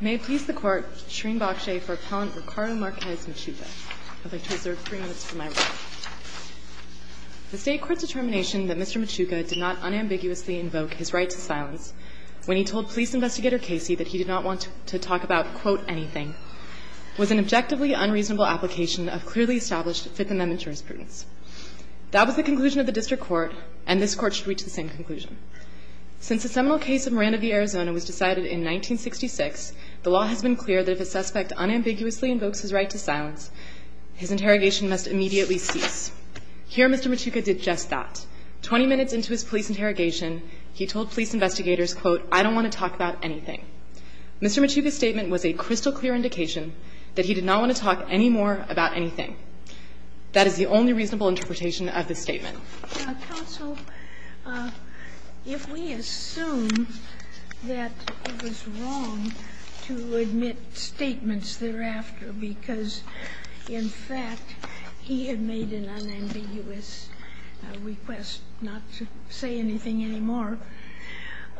May please the court, Shereen Bokshay for Appellant Ricardo Marquez Machuca. I'd like to reserve three minutes for my reading. The State Court's determination that Mr. Machuca did not unambiguously invoke his right to silence when he told Police Investigator Casey that he did not want to talk about, quote, anything, was an objectively unreasonable application of clearly established Fifth Amendment jurisprudence. That was the conclusion of the District Court, and this Court should reach the same conclusion. Since the seminal case of Miranda v. Arizona was decided in 1966, the law has been clear that if a suspect unambiguously invokes his right to silence, his interrogation must immediately cease. Here Mr. Machuca did just that. Twenty minutes into his police interrogation, he told police investigators, quote, I don't want to talk about anything. Mr. Machuca's statement was a crystal clear indication that he did not want to talk any more about anything. That is the only reasonable interpretation of this statement. Counsel, if we assume that it was wrong to admit statements thereafter because, in fact, he had made an unambiguous request not to say anything anymore,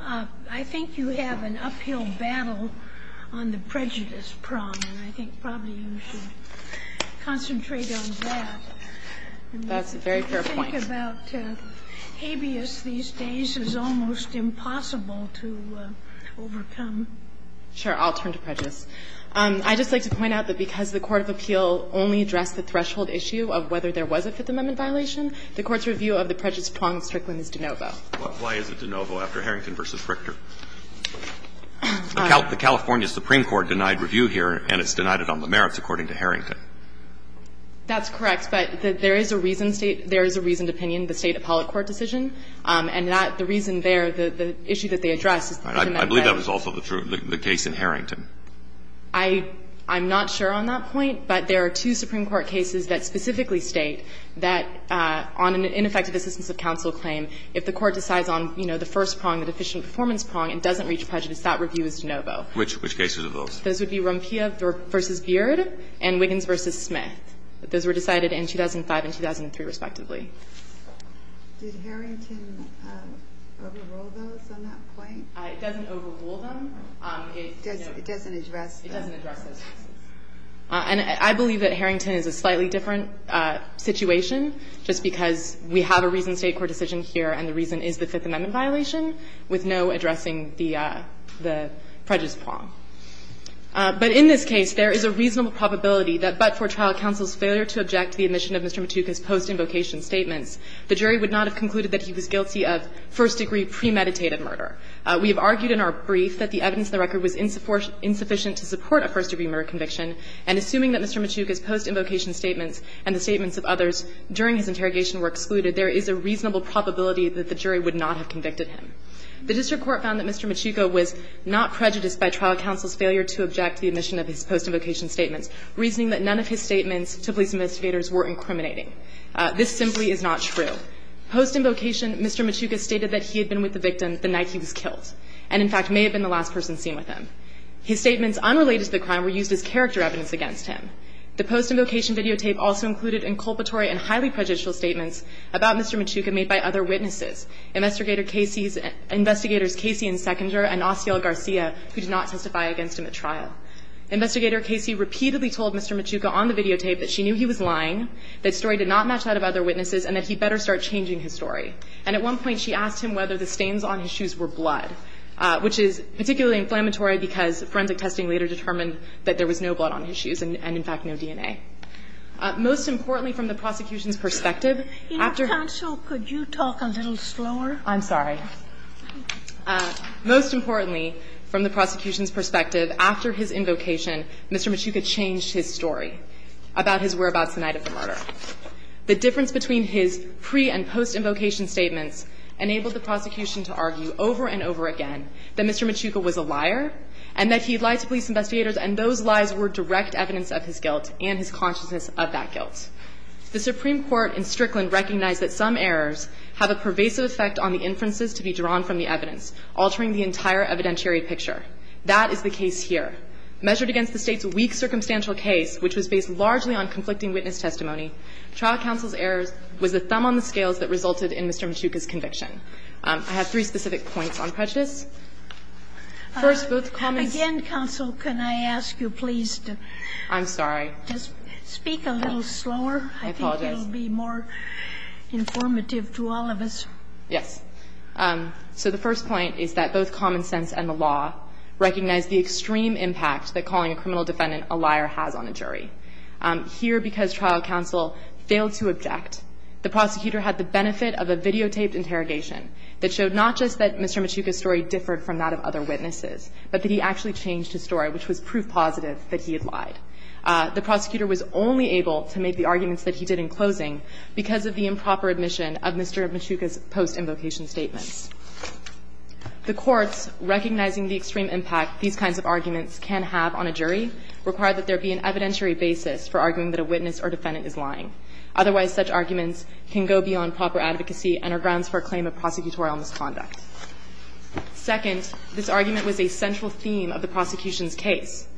I think you have an uphill battle on the prejudice prong, and I think probably you should concentrate on that. That's a very fair point. I think about habeas these days is almost impossible to overcome. Sure. I'll turn to prejudice. I'd just like to point out that because the court of appeal only addressed the threshold issue of whether there was a Fifth Amendment violation, the Court's review of the prejudice prong in Strickland is de novo. Why is it de novo after Harrington v. Richter? The California Supreme Court denied review here, and it's denied it on the merits, according to Harrington. That's correct. But there is a reasoned State – there is a reasoned opinion, the State appellate court decision. And the reason there, the issue that they addressed is the Fifth Amendment. I believe that was also the case in Harrington. I'm not sure on that point, but there are two Supreme Court cases that specifically state that on an ineffective assistance of counsel claim, if the court decides on, you know, the first prong, the deficient performance prong, it doesn't reach prejudice. That review is de novo. Which cases are those? Those would be Rompia v. Beard and Wiggins v. Smith. Those were decided in 2005 and 2003, respectively. Did Harrington overrule those on that point? It doesn't overrule them. It doesn't address those cases. And I believe that Harrington is a slightly different situation just because we have a reasoned State court decision here, and the reason is the Fifth Amendment violation with no addressing the prejudice prong. But in this case, there is a reasonable probability that but for trial counsel's failure to object to the admission of Mr. Machuco's post-invocation statements, the jury would not have concluded that he was guilty of first-degree premeditated murder. We have argued in our brief that the evidence in the record was insufficient to support a first-degree murder conviction, and assuming that Mr. Machuco's post-invocation statements and the statements of others during his interrogation were excluded, there is a reasonable probability that the jury would not have convicted him. The district court found that Mr. Machuco was not prejudiced by trial counsel's failure to object to the admission of his post-invocation statements, reasoning that none of his statements to police investigators were incriminating. This simply is not true. Post-invocation, Mr. Machuco stated that he had been with the victim the night he was killed and, in fact, may have been the last person seen with him. His statements unrelated to the crime were used as character evidence against him. The post-invocation videotape also included inculpatory and highly prejudicial statements about Mr. Machuco made by other witnesses, Investigator Casey's investigators Casey and Seconder and Osiel Garcia, who did not testify against him at trial. Investigator Casey repeatedly told Mr. Machuco on the videotape that she knew he was lying, that story did not match that of other witnesses, and that he better start changing his story. And at one point, she asked him whether the stains on his shoes were blood, which is particularly inflammatory because forensic testing later determined that there was no blood on his shoes and, in fact, no DNA. Most importantly, from the prosecution's perspective, after his invocation, Mr. Machuco changed his story about his whereabouts the night of the murder. The difference between his pre- and post-invocation statements enabled the prosecution to argue over and over again that Mr. Machuco was a liar and that he lied to police investigators and those lies were direct evidence of his guilt and his conviction. The Supreme Court in Strickland recognized that some errors have a pervasive effect on the inferences to be drawn from the evidence, altering the entire evidentiary picture. That is the case here. Measured against the State's weak circumstantial case, which was based largely on conflicting witness testimony, trial counsel's error was the thumb on the scales that resulted in Mr. Machuco's conviction. I have three specific points on prejudice. First, both comments. The first point is that both common sense and the law recognize the extreme impact that calling a criminal defendant a liar has on a jury. Here, because trial counsel failed to object, the prosecutor had the benefit of a videotaped interrogation that showed not just that Mr. Machuco's story differed from that of other The prosecutor was only able to make the arguments that he did in closing because of the improper admission of Mr. Machuco's post-invocation statements. The courts, recognizing the extreme impact these kinds of arguments can have on a jury, require that there be an evidentiary basis for arguing that a witness or defendant is lying. Otherwise, such arguments can go beyond proper advocacy and are grounds for a claim of prosecutorial misconduct. Second, this argument was a central theme of the prosecution's case.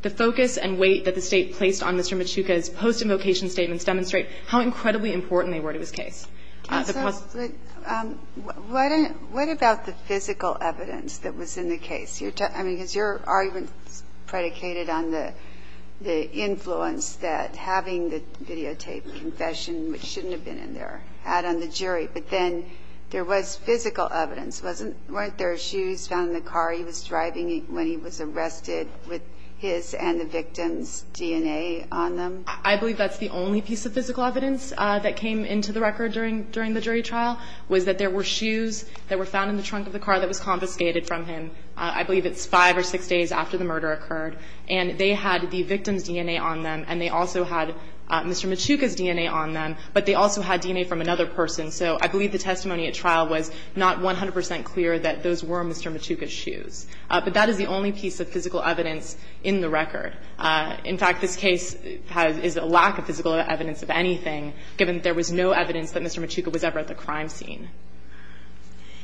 The focus and weight that the State placed on Mr. Machuco's post-invocation statements demonstrate how incredibly important they were to his case. The prosecution's case. Ginsburg. What about the physical evidence that was in the case? I mean, because your argument predicated on the influence that having the videotaped confession, which shouldn't have been in there, had on the jury. But then there was physical evidence, wasn't there? Shoes found in the car he was driving when he was arrested with his and the victim's DNA on them? I believe that's the only piece of physical evidence that came into the record during the jury trial, was that there were shoes that were found in the trunk of the car that was confiscated from him. I believe it's five or six days after the murder occurred. And they had the victim's DNA on them, and they also had Mr. Machuco's DNA on them, but they also had DNA from another person. So I believe the testimony at trial was not 100 percent clear that those were Mr. Machuco's shoes. But that is the only piece of physical evidence in the record. In fact, this case is a lack of physical evidence of anything, given that there was no evidence that Mr. Machuco was ever at the crime scene.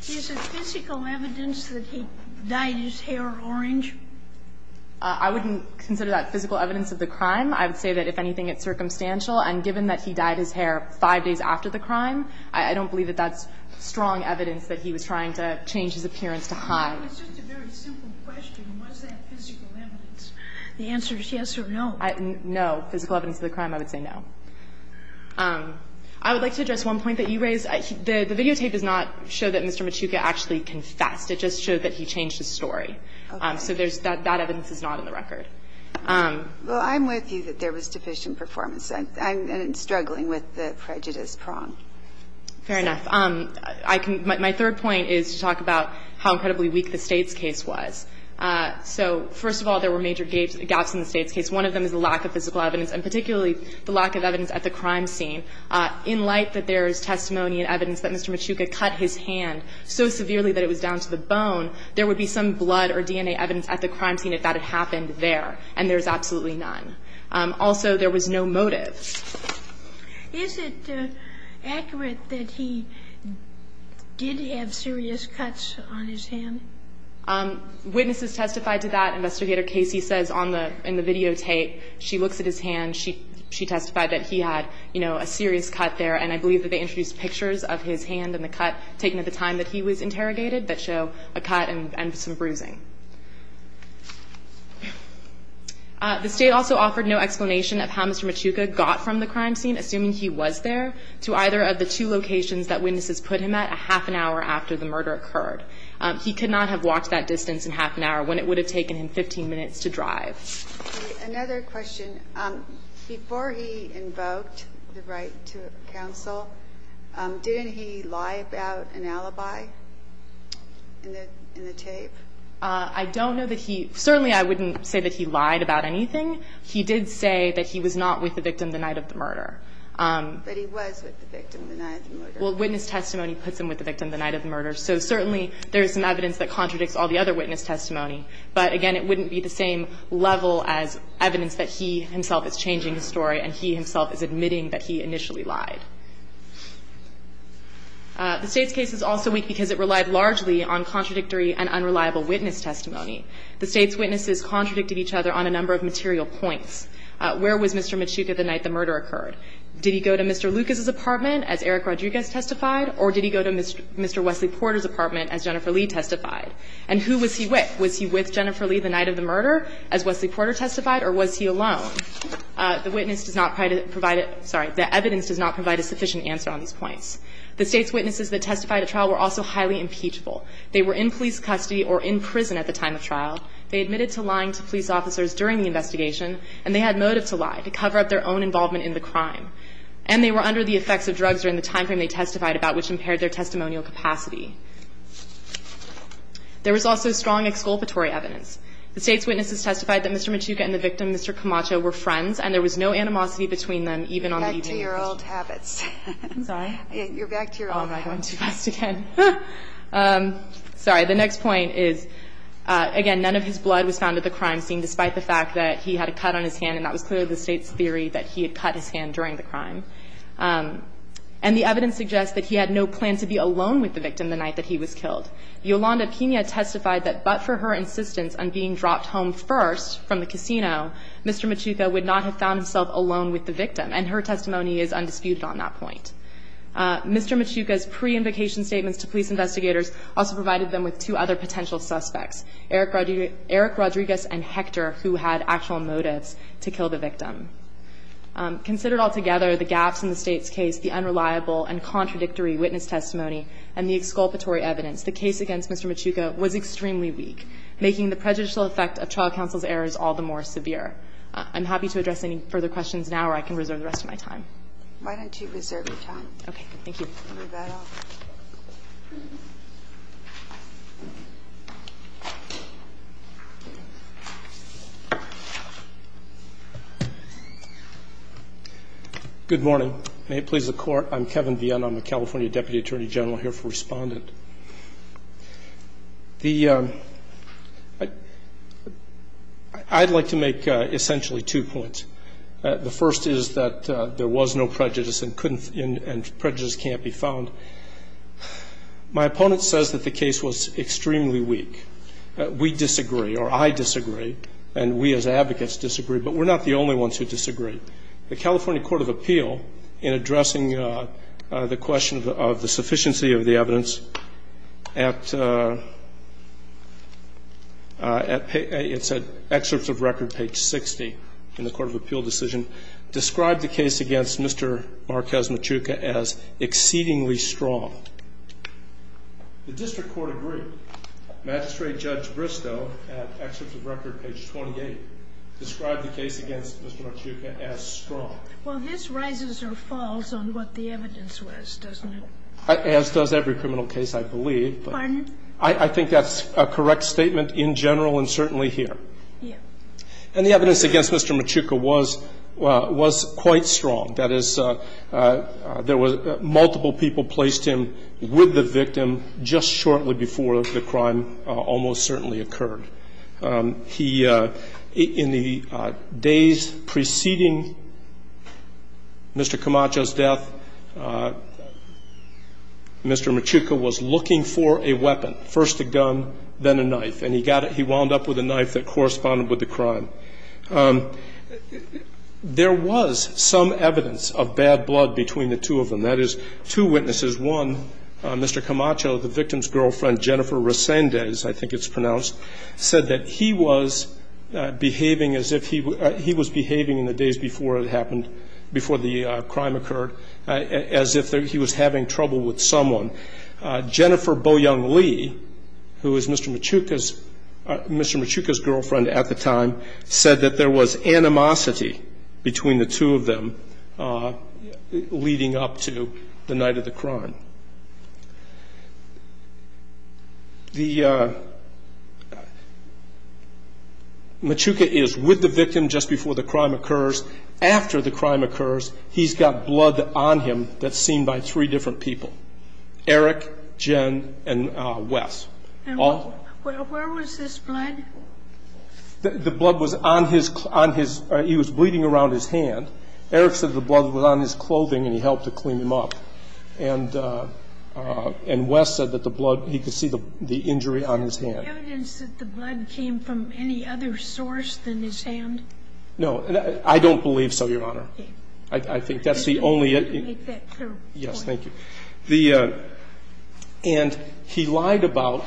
Is it physical evidence that he dyed his hair orange? I wouldn't consider that physical evidence of the crime. I would say that, if anything, it's circumstantial. And given that he dyed his hair five days after the crime, I don't believe that that's strong evidence that he was trying to change his appearance to hide. It's just a very simple question. Was that physical evidence? The answer is yes or no. No. Physical evidence of the crime, I would say no. I would like to address one point that you raised. The videotape does not show that Mr. Machuco actually confessed. It just showed that he changed his story. Okay. So that evidence is not in the record. Well, I'm with you that there was deficient performance. I'm struggling with the prejudice prong. Fair enough. I can – my third point is to talk about how incredibly weak the States case was. So, first of all, there were major gaps in the States case. One of them is the lack of physical evidence, and particularly the lack of evidence at the crime scene. In light that there is testimony and evidence that Mr. Machuco cut his hand so severely that it was down to the bone, there would be some blood or DNA evidence at the crime scene if that had happened there. And there's absolutely none. Also, there was no motive. Is it accurate that he did have serious cuts on his hand? Witnesses testified to that. Investigator Casey says on the – in the videotape, she looks at his hand. She testified that he had, you know, a serious cut there. And I believe that they introduced pictures of his hand and the cut taken at the time that he was interrogated that show a cut and some bruising. The State also offered no explanation of how Mr. Machuco got from the crime scene, assuming he was there, to either of the two locations that witnesses put him at a half an hour after the murder occurred. He could not have walked that distance in half an hour when it would have taken him 15 minutes to drive. Another question. Before he invoked the right to counsel, didn't he lie about an alibi in the tape? I don't know that he – certainly, I wouldn't say that he lied about anything. He did say that he was not with the victim the night of the murder. But he was with the victim the night of the murder. Well, witness testimony puts him with the victim the night of the murder. So, certainly, there is some evidence that contradicts all the other witness testimony. But, again, it wouldn't be the same level as evidence that he himself is changing his story and he himself is admitting that he initially lied. The State's case is also weak because it relied largely on contradictory and unreliable witness testimony. The State's witnesses contradicted each other on a number of material points. Where was Mr. Machuco the night the murder occurred? Did he go to Mr. Lucas's apartment, as Eric Rodriguez testified, or did he go to Mr. Wesley Porter's apartment, as Jennifer Lee testified? And who was he with? Was he with Jennifer Lee the night of the murder, as Wesley Porter testified, or was he alone? The witness does not provide a sufficient answer on these points. The State's witnesses that testified at trial were also highly impeachable. They were in police custody or in prison at the time of trial. They admitted to lying to police officers during the investigation. And they had motive to lie, to cover up their own involvement in the crime. And they were under the effects of drugs during the time frame they testified about, which impaired their testimonial capacity. There was also strong exculpatory evidence. The State's witnesses testified that Mr. Machuco and the victim, Mr. Camacho, were friends, and there was no animosity between them, even on the evening of the Sotomayor, you're back to your old habits. I'm sorry? You're back to your old habits. Oh, am I going too fast again? Sorry. The next point is, again, none of his blood was found at the crime scene, despite the fact that he had a cut on his hand, and that was clearly the State's theory that he had cut his hand during the crime. And the evidence suggests that he had no plan to be alone with the victim the night that he was killed. Yolanda Pina testified that but for her insistence on being dropped home first from the casino, Mr. Machuco would not have found himself alone with the victim, and her testimony is undisputed on that point. Mr. Machuco's pre-invocation statements to police investigators also provided them with two other potential suspects, Eric Rodriguez and Hector, who had actual motives to kill the victim. Considered altogether, the gaps in the State's case, the unreliable and contradictory witness testimony, and the exculpatory evidence, the case against Mr. Machuco was extremely weak, making the prejudicial effect of trial counsel's errors all the more severe. I'm happy to address any further questions now, or I can reserve the rest of my time. Why don't you reserve your time? Okay. Move that up. Good morning. May it please the Court. I'm Kevin Vienne. I'm a California Deputy Attorney General here for Respondent. The ‑‑ I'd like to make essentially two points. The first is that there was no prejudice and prejudice can't be found. My opponent says that the case was extremely weak. We disagree, or I disagree, and we as advocates disagree, but we're not the only ones who disagree. The California Court of Appeal, in addressing the question of the sufficiency of the evidence, at ‑‑ it's at excerpts of record page 60 in the Court of Appeal decision, described the case against Mr. Marquez Machuco as exceedingly strong. The district court agreed. Magistrate Judge Bristow, at excerpts of record page 28, described the case against Mr. Machuco as strong. Well, this rises or falls on what the evidence was, doesn't it? As does every criminal case, I believe. Pardon? I think that's a correct statement in general and certainly here. Yeah. And the evidence against Mr. Machuco was quite strong. That is, there was multiple people placed him with the victim just shortly before the crime almost certainly occurred. He, in the days preceding Mr. Camacho's death, Mr. Machuco was looking for a weapon, first a gun, then a knife, and he wound up with a knife that corresponded with the crime. There was some evidence of bad blood between the two of them. That is, two witnesses, one, Mr. Camacho, the victim's girlfriend, Jennifer Resendez, I think it's pronounced, said that he was behaving in the days before it happened, before the crime occurred, as if he was having trouble with someone. Jennifer Boyoung Lee, who was Mr. Machuco's girlfriend at the time, said that there was animosity between the two of them leading up to the night of the crime. Machuco is with the victim just before the crime occurs. After the crime occurs, he's got blood on him that's seen by three different people, Eric, Jen, and Wes. And where was this blood? The blood was on his, he was bleeding around his hand. Eric said the blood was on his clothing and he helped to clean him up. And Wes said that the blood, he could see the injury on his hand. Was there evidence that the blood came from any other source than his hand? No. I don't believe so, Your Honor. Okay. I think that's the only. Let me make that clear. Yes, thank you. The, and he lied about,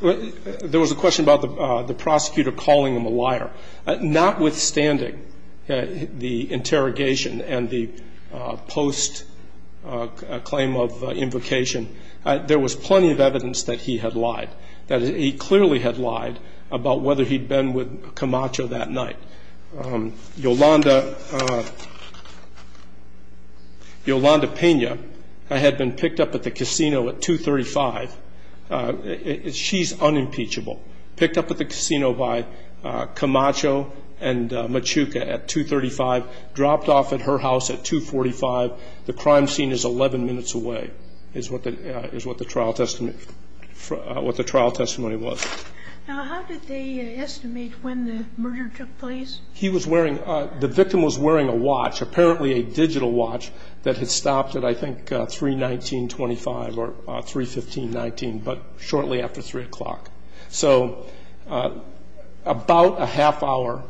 there was a question about the prosecutor calling him a liar. Notwithstanding the interrogation and the post claim of invocation, there was plenty of evidence that he had lied, that he clearly had lied about whether he'd been with Camacho that night. Yolanda, Yolanda Pena had been picked up at the casino at 235. She's unimpeachable. Picked up at the casino by Camacho and Machuca at 235. Dropped off at her house at 245. The crime scene is 11 minutes away, is what the trial testimony was. Now, how did they estimate when the murder took place? He was wearing, the victim was wearing a watch, apparently a digital watch that had stopped at, I think, 319.25 or 315.19, but shortly after 3 o'clock. So about a half hour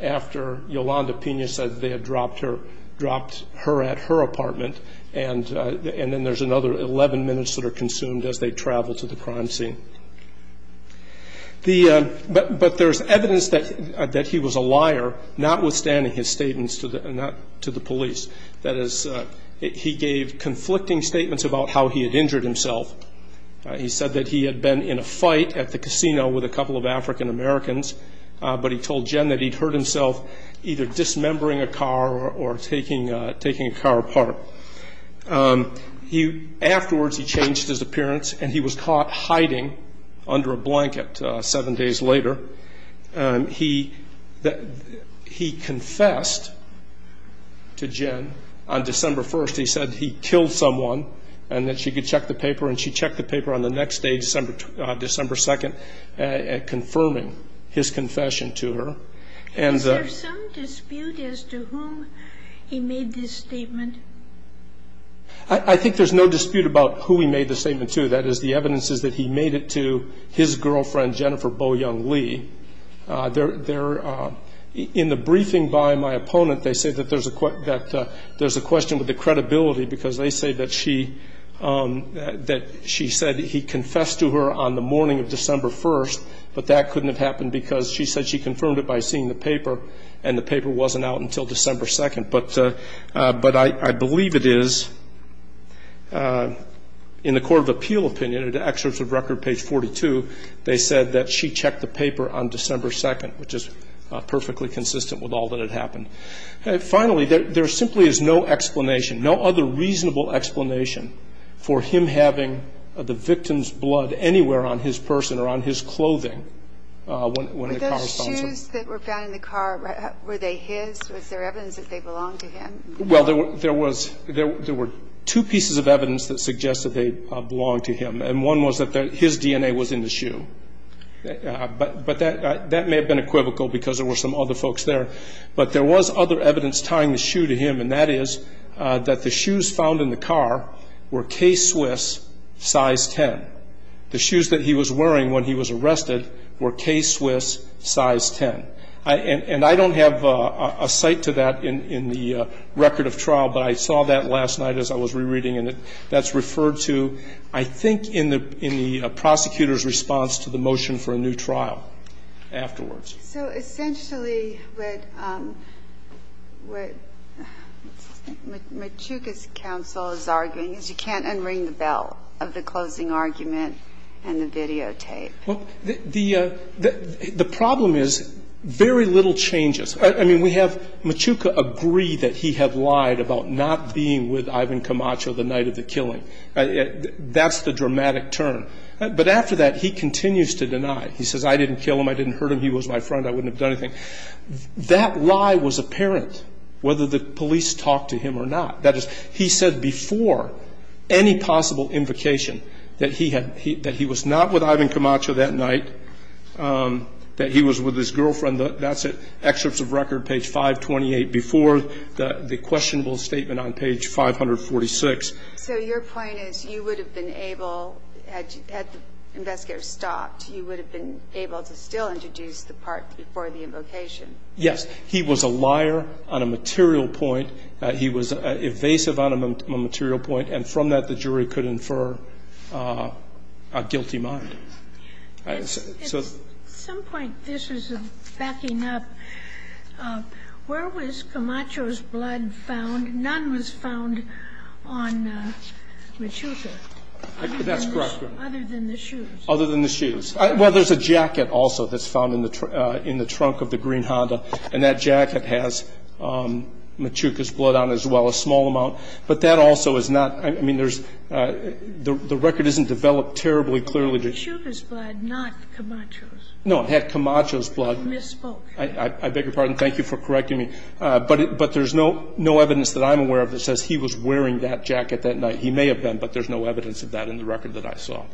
after Yolanda Pena said they had dropped her, dropped her at her apartment, and then there's another 11 minutes that are consumed as they travel to the crime scene. But there's evidence that he was a liar, notwithstanding his statements to the police. That is, he gave conflicting statements about how he had injured himself. He said that he had been in a fight at the casino with a couple of African Americans, but he told Jen that he'd hurt himself either dismembering a car or taking a car apart. Afterwards, he changed his appearance, and he was caught hiding under a blanket seven days later. He confessed to Jen on December 1st. He said he killed someone and that she could check the paper, and she checked the paper on the next day, December 2nd, confirming his confession to her. Is there some dispute as to whom he made this statement? I think there's no dispute about who he made the statement to. That is, the evidence is that he made it to his girlfriend, Jennifer Bo Young Lee. In the briefing by my opponent, they say that there's a question with the credibility because they say that she said he confessed to her on the morning of December 1st, but that couldn't have happened because she said she confirmed it by seeing the paper, and the paper wasn't out until December 2nd. But I believe it is, in the court of appeal opinion, in the excerpts of record, page 42, they said that she checked the paper on December 2nd, which is perfectly consistent with all that had happened. Finally, there simply is no explanation, no other reasonable explanation for him having the victim's blood anywhere on his person or on his clothing when the car was found. Were those shoes that were found in the car, were they his? Was there evidence that they belonged to him? Well, there were two pieces of evidence that suggested they belonged to him, and one was that his DNA was in the shoe. But that may have been equivocal because there were some other folks there. But there was other evidence tying the shoe to him, and that is that the shoes found in the car were K-Swiss, size 10. The shoes that he was wearing when he was arrested were K-Swiss, size 10. And I don't have a cite to that in the record of trial, but I saw that last night as I was rereading it. And that's referred to, I think, in the prosecutor's response to the motion for a new trial afterwards. So essentially what Machuca's counsel is arguing is you can't unring the bell of the closing argument and the videotape. Well, the problem is very little changes. I mean, we have Machuca agree that he had lied about not being with Ivan Camacho the night of the killing. That's the dramatic turn. But after that, he continues to deny. He says, I didn't kill him. I didn't hurt him. He was my friend. I wouldn't have done anything. That lie was apparent whether the police talked to him or not. That is, he said before any possible invocation that he was not with Ivan Camacho that night, that he was with his girlfriend. And that's it. Excerpts of record, page 528, before the questionable statement on page 546. So your point is you would have been able, had investigators stopped, you would have been able to still introduce the part before the invocation? Yes. He was a liar on a material point. He was evasive on a material point. And from that, the jury could infer a guilty mind. At some point, this is backing up. Where was Camacho's blood found? None was found on Machuca. That's correct. Other than the shoes. Other than the shoes. Well, there's a jacket also that's found in the trunk of the green Honda. And that jacket has Machuca's blood on it as well, a small amount. But that also is not – I mean, there's – the record isn't developed terribly clearly to – Machuca's blood, not Camacho's. No, it had Camacho's blood. You misspoke. I beg your pardon. Thank you for correcting me. But there's no evidence that I'm aware of that says he was wearing that jacket that night. He may have been, but there's no evidence of that in the record that I saw.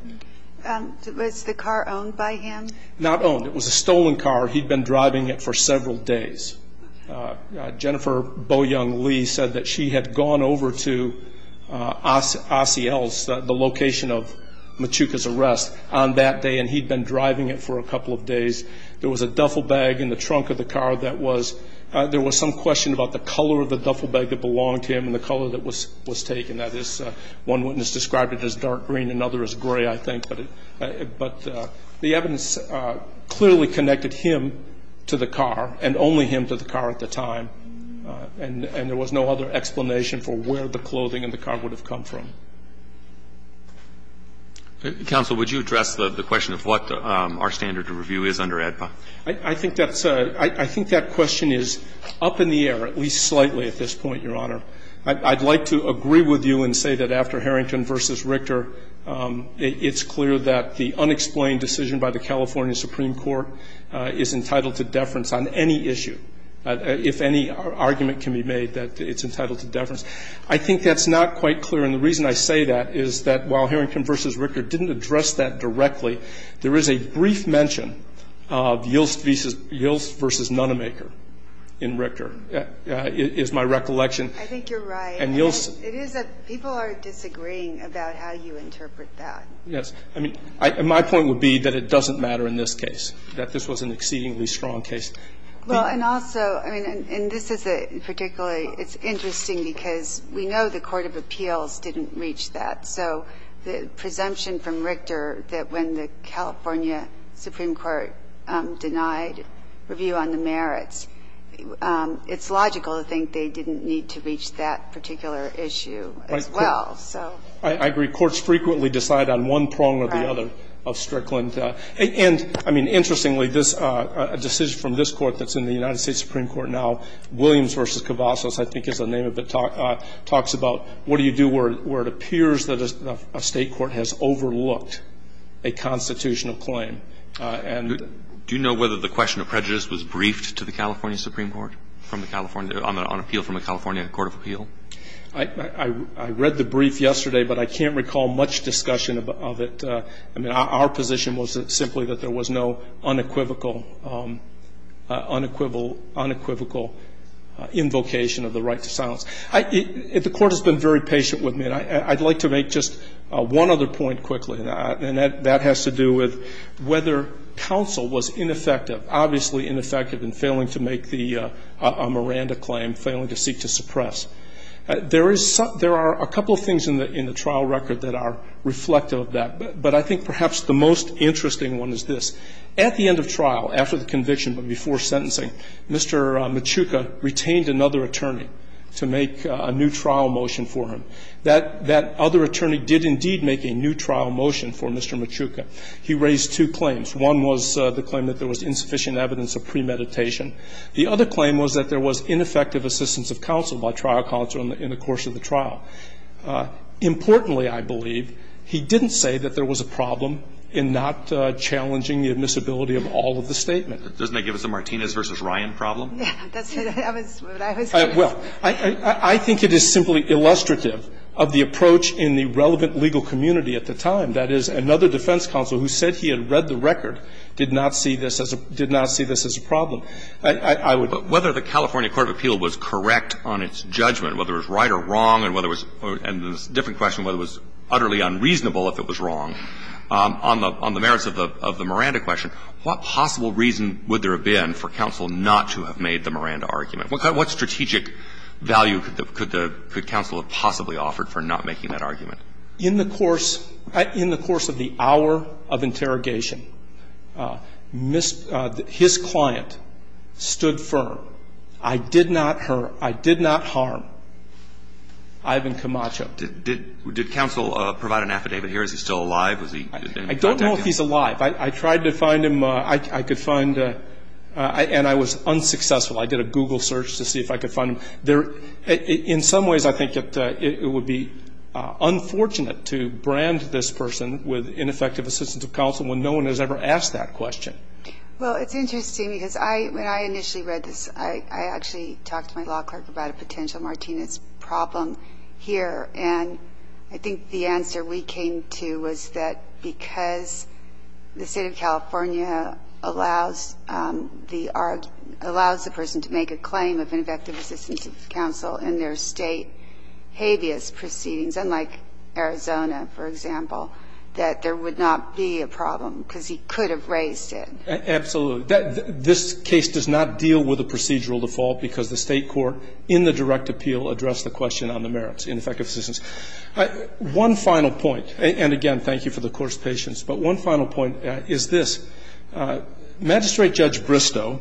Was the car owned by him? Not owned. It was a stolen car. He'd been driving it for several days. Jennifer Boyoung Lee said that she had gone over to Ossiel's, the location of Machuca's arrest, on that day, and he'd been driving it for a couple of days. There was a duffel bag in the trunk of the car that was – there was some question about the color of the duffel bag that belonged to him and the color that was taken. That is, one witness described it as dark green, another as gray, I think. But the evidence clearly connected him to the car and only him to the car at the time, and there was no other explanation for where the clothing in the car would have come from. Counsel, would you address the question of what our standard of review is under AEDPA? I think that question is up in the air, at least slightly at this point, Your Honor. I'd like to agree with you and say that after Harrington v. Richter, it's clear that the unexplained decision by the California Supreme Court is entitled to deference on any issue, if any argument can be made that it's entitled to deference. I think that's not quite clear, and the reason I say that is that, while Harrington v. Richter didn't address that directly, there is a brief mention of Yilts v. Nonemaker in Richter, is my recollection. I think you're right. And Yilts — It is a — people are disagreeing about how you interpret that. Yes. I mean, my point would be that it doesn't matter in this case, that this was an exceedingly strong case. Well, and also, I mean, and this is a particularly — it's interesting because we know the court of appeals didn't reach that. So the presumption from Richter that when the California Supreme Court denied review on the merits, it's logical to think they didn't need to reach that particular issue as well. I agree. Courts frequently decide on one prong or the other of Strickland. And, I mean, interestingly, a decision from this court that's in the United States Supreme Court now, Williams v. Cavazos, I think is the name of it, talks about what do you do where it appears that a state court has overlooked a constitutional claim. Do you know whether the question of prejudice was briefed to the California Supreme Court from the California — on appeal from the California Court of Appeal? I read the brief yesterday, but I can't recall much discussion of it. I mean, our position was simply that there was no unequivocal invocation of the right to silence. The court has been very patient with me. And I'd like to make just one other point quickly, and that has to do with whether counsel was ineffective, obviously ineffective in failing to make the Miranda claim, failing to seek to suppress. There are a couple of things in the trial record that are reflective of that. But I think perhaps the most interesting one is this. At the end of trial, after the conviction but before sentencing, Mr. Machuca retained another attorney to make a new trial motion for him. That other attorney did indeed make a new trial motion for Mr. Machuca. He raised two claims. One was the claim that there was insufficient evidence of premeditation. The other claim was that there was ineffective assistance of counsel by trial counsel in the course of the trial. Importantly, I believe, he didn't say that there was a problem in not challenging the admissibility of all of the statements. challenging the admissibility of all of the statements. Roberts. Doesn't that give us a Martinez v. Ryan problem? Yeah, that's what I was going to say. Well, I think it is simply illustrative of the approach in the relevant legal community at the time, that is, another defense counsel who said he had read the record did not see this as a problem. I would. But whether the California Court of Appeal was correct on its judgment, whether it was right or wrong, and whether it was, and this is a different question, whether it was utterly unreasonable if it was wrong, on the merits of the Miranda question, what possible reason would there have been for counsel not to have made the Miranda argument? What strategic value could counsel have possibly offered for not making that argument? In the course of the hour of interrogation, his client stood firm. I did not hurt, I did not harm Ivan Camacho. Did counsel provide an affidavit here? Is he still alive? I don't know if he's alive. I tried to find him. I could find him, and I was unsuccessful. I did a Google search to see if I could find him. In some ways, I think it would be unfortunate to brand this person with ineffective assistance of counsel when no one has ever asked that question. Well, it's interesting because when I initially read this, I actually talked to my law clerk about a potential Martinez problem here, and I think the answer we came to was that because the State of California allows the person to make a claim of ineffective assistance of counsel in their State habeas proceedings, unlike Arizona, for example, that there would not be a problem because he could have raised it. Absolutely. This case does not deal with a procedural default because the State court in the direct appeal addressed the question on the merits, ineffective assistance. One final point, and again, thank you for the Court's patience, but one final point is this. Magistrate Judge Bristow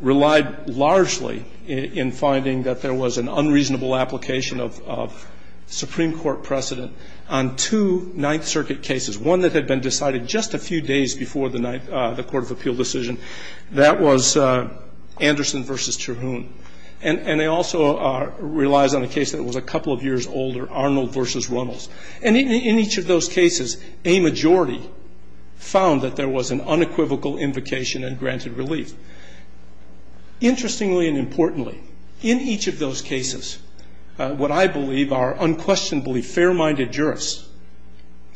relied largely in finding that there was an unreasonable application of Supreme Court precedent on two Ninth Circuit cases, one that had been decided just a few days before the Court of Appeal decision. That was Anderson v. Cherhoun. And he also relies on a case that was a couple of years older, Arnold v. Runnels. And in each of those cases, a majority found that there was an unequivocal invocation and granted relief. Interestingly and importantly, in each of those cases, what I believe are unquestionably fair-minded jurists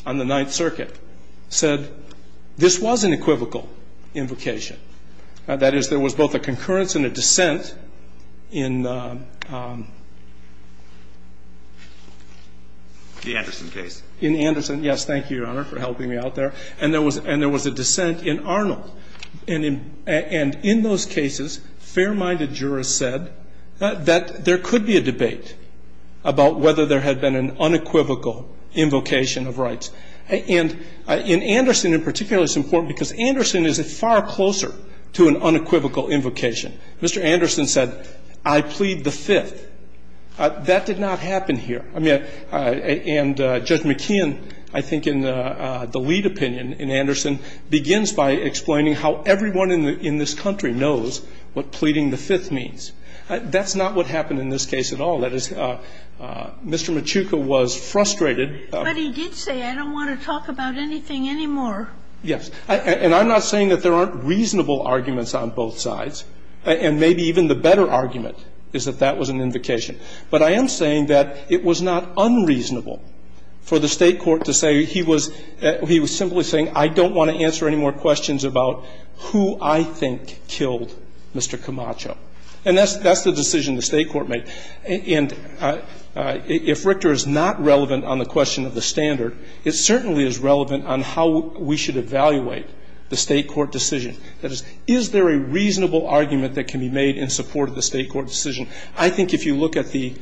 on the Ninth Circuit said this was an equivocal invocation. That is, there was both a concurrence and a dissent in the answer to the question in the Anderson case. In Anderson, yes. Thank you, Your Honor, for helping me out there. And there was a dissent in Arnold. And in those cases, fair-minded jurists said that there could be a debate about whether there had been an unequivocal invocation of rights. And in Anderson in particular, it's important because Anderson is far closer to an unequivocal invocation. Mr. Anderson said, I plead the Fifth. That did not happen here. I mean, and Judge McKeon, I think in the lead opinion in Anderson, begins by explaining how everyone in this country knows what pleading the Fifth means. That's not what happened in this case at all. That is, Mr. Machuca was frustrated. But he did say, I don't want to talk about anything anymore. Yes. And I'm not saying that there aren't reasonable arguments on both sides. And maybe even the better argument is that that was an invocation. But I am saying that it was not unreasonable for the State court to say he was simply saying, I don't want to answer any more questions about who I think killed Mr. Camacho. And that's the decision the State court made. And if Richter is not relevant on the question of the standard, it certainly is relevant on how we should evaluate the State court decision. That is, is there a reasonable argument that can be made in support of the State court decision? I think if you look at the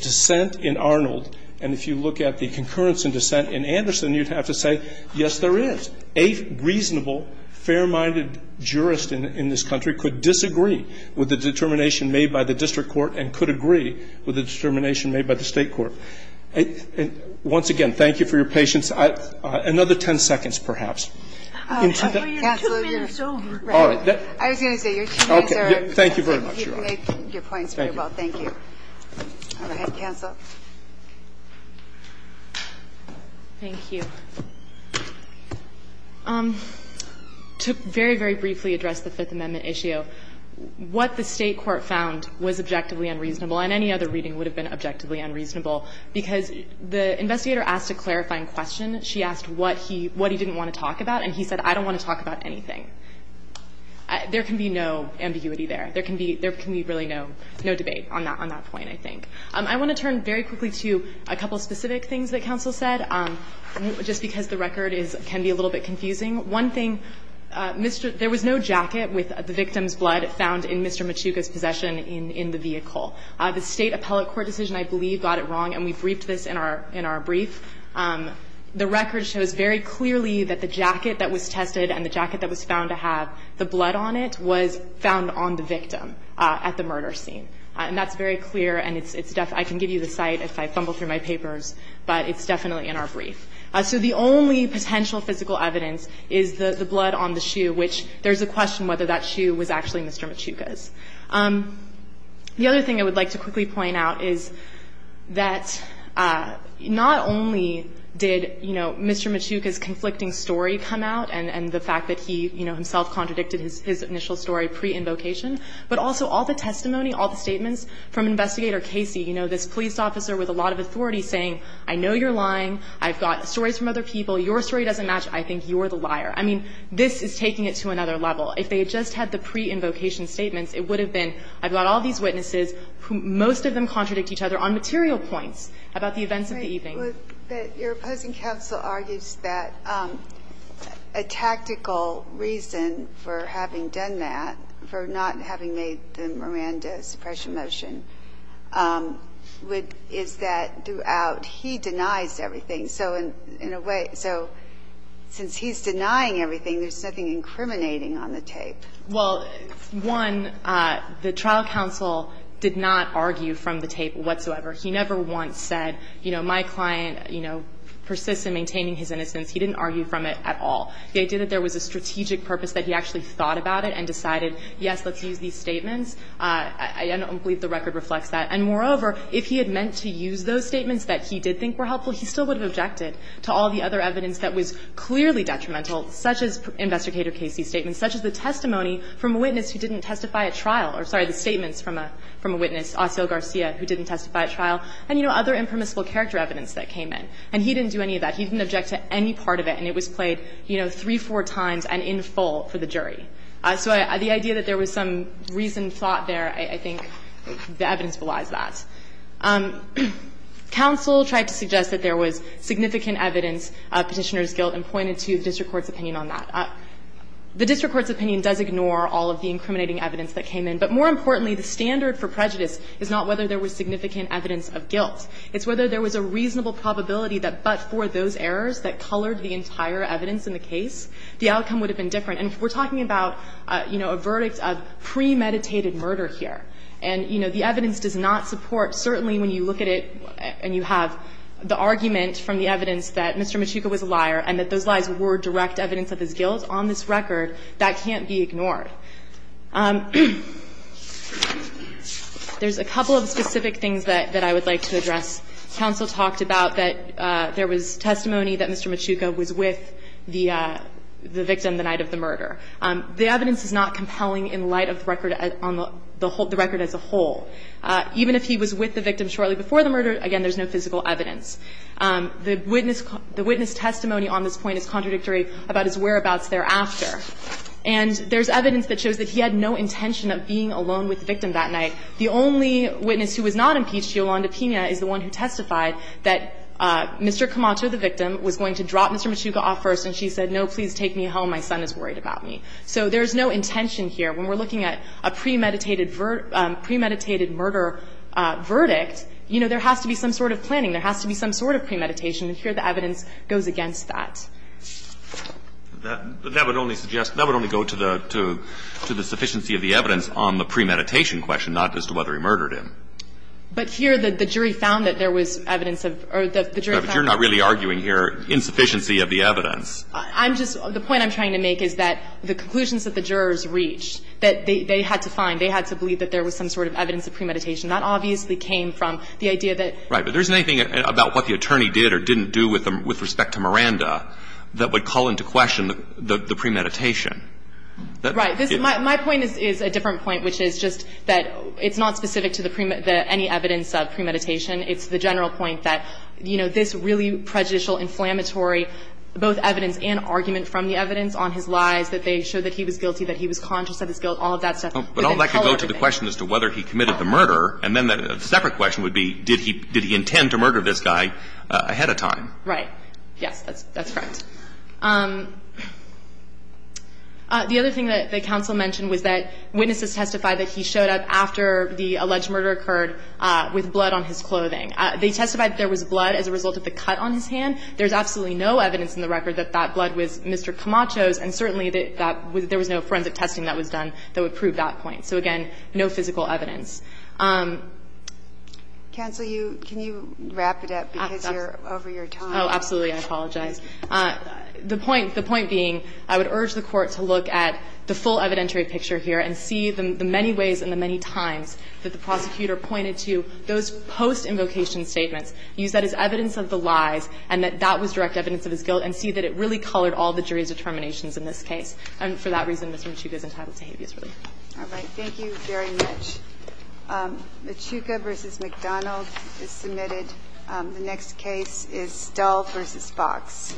dissent in Arnold and if you look at the concurrence in dissent in Anderson, you'd have to say, yes, there is. A reasonable, fair-minded jurist in this country could disagree with the determination made by the district court and could agree with the determination made by the State court. Once again, thank you for your patience. Another ten seconds, perhaps. Counsel, you're right. I was going to say, your two minutes are up. Thank you very much, Your Honor. Thank you. Go ahead, counsel. Thank you. To very, very briefly address the Fifth Amendment issue, what the State court found was objectively unreasonable, and any other reading would have been objectively unreasonable, because the investigator asked a clarifying question. She asked what he didn't want to talk about, and he said, I don't want to talk about anything. There can be no ambiguity there. There can be really no debate on that point, I think. I want to turn very quickly to a couple specific things that counsel said, just because the record can be a little bit confusing. One thing, there was no jacket with the victim's blood found in Mr. Machuca's possession in the vehicle. The State appellate court decision, I believe, got it wrong, and we briefed this in our brief. The record shows very clearly that the jacket that was tested and the jacket that was found to have the blood on it was found on the victim at the murder scene. And that's very clear, and I can give you the site if I fumble through my papers, but it's definitely in our brief. So the only potential physical evidence is the blood on the shoe, which there's a question whether that shoe was actually Mr. Machuca's. The other thing I would like to quickly point out is that not only did, you know, Mr. Machuca's conflicting story come out and the fact that he, you know, himself contradicted his initial story pre-invocation, but also all the testimony, all the statements from Investigator Casey, you know, this police officer with a lot of authority saying, I know you're lying. I've got stories from other people. Your story doesn't match. I think you're the liar. I mean, this is taking it to another level. If they had just had the pre-invocation statements, it would have been I've got all these witnesses who most of them contradict each other on material points about the events of the evening. But your opposing counsel argues that a tactical reason for having done that, for not having made the Miranda suppression motion, would be that he denies everything. So in a way, so since he's denying everything, there's nothing incriminating on the tape. Well, one, the trial counsel did not argue from the tape whatsoever. He never once said, you know, my client, you know, persists in maintaining his innocence. He didn't argue from it at all. The idea that there was a strategic purpose that he actually thought about it and decided, yes, let's use these statements, I don't believe the record reflects that. And moreover, if he had meant to use those statements that he did think were helpful, he still would have objected to all the other evidence that was clearly detrimental, such as Investigator Casey's statements, such as the testimony from a witness who didn't testify at trial, or sorry, the statements from a witness, Osseo Garcia, who didn't testify at trial, and, you know, other impermissible character evidence that came in. And he didn't do any of that. He didn't object to any part of it. And it was played, you know, three, four times and in full for the jury. So the idea that there was some reasoned thought there, I think the evidence belies that. Counsel tried to suggest that there was significant evidence of Petitioner's opinion on that. The district court's opinion does ignore all of the incriminating evidence that came in. But more importantly, the standard for prejudice is not whether there was significant evidence of guilt. It's whether there was a reasonable probability that but for those errors that colored the entire evidence in the case, the outcome would have been different. And we're talking about, you know, a verdict of premeditated murder here. And, you know, the evidence does not support, certainly when you look at it and you have the argument from the evidence that Mr. Machuca was a liar and that those lies were direct evidence of his guilt, on this record, that can't be ignored. There's a couple of specific things that I would like to address. Counsel talked about that there was testimony that Mr. Machuca was with the victim the night of the murder. The evidence is not compelling in light of record on the record as a whole. Even if he was with the victim shortly before the murder, again, there's no physical evidence. The witness testimony on this point is contradictory about his whereabouts thereafter. And there's evidence that shows that he had no intention of being alone with the victim that night. The only witness who was not impeached, Yolanda Pina, is the one who testified that Mr. Camacho, the victim, was going to drop Mr. Machuca off first and she said, no, please take me home. My son is worried about me. So there's no intention here. When we're looking at a premeditated murder verdict, you know, there has to be some sort of planning. There has to be some sort of premeditation. And here the evidence goes against that. That would only suggest, that would only go to the, to the sufficiency of the evidence on the premeditation question, not as to whether he murdered him. But here the jury found that there was evidence of, or the jury found that. But you're not really arguing here insufficiency of the evidence. I'm just, the point I'm trying to make is that the conclusions that the jurors reached, that they had to find, they had to believe that there was some sort of evidence of premeditation. That obviously came from the idea that. Right. But there isn't anything about what the attorney did or didn't do with respect to Miranda that would call into question the premeditation. Right. My point is a different point, which is just that it's not specific to the premeditation, any evidence of premeditation. It's the general point that, you know, this really prejudicial, inflammatory both evidence and argument from the evidence on his lies, that they showed that he was guilty, that he was conscious of his guilt, all of that stuff. But all that could go to the question as to whether he committed the murder. And then a separate question would be, did he intend to murder this guy ahead of time? Right. Yes, that's correct. The other thing that the counsel mentioned was that witnesses testified that he showed up after the alleged murder occurred with blood on his clothing. They testified that there was blood as a result of the cut on his hand. There's absolutely no evidence in the record that that blood was Mr. Camacho's and certainly there was no forensic testing that was done that would prove that point. So again, no physical evidence. Cancel you, can you wrap it up because you're over your time? Oh, absolutely. I apologize. The point, the point being, I would urge the Court to look at the full evidentiary picture here and see the many ways and the many times that the prosecutor pointed to those post-invocation statements, use that as evidence of the lies and that that was direct evidence of his guilt and see that it really colored all the jury's determinations in this case. And for that reason, Mr. Machuca is entitled to habeas relief. All right. Thank you very much. Machuca v. McDonald is submitted. The next case is Stull v. Fox.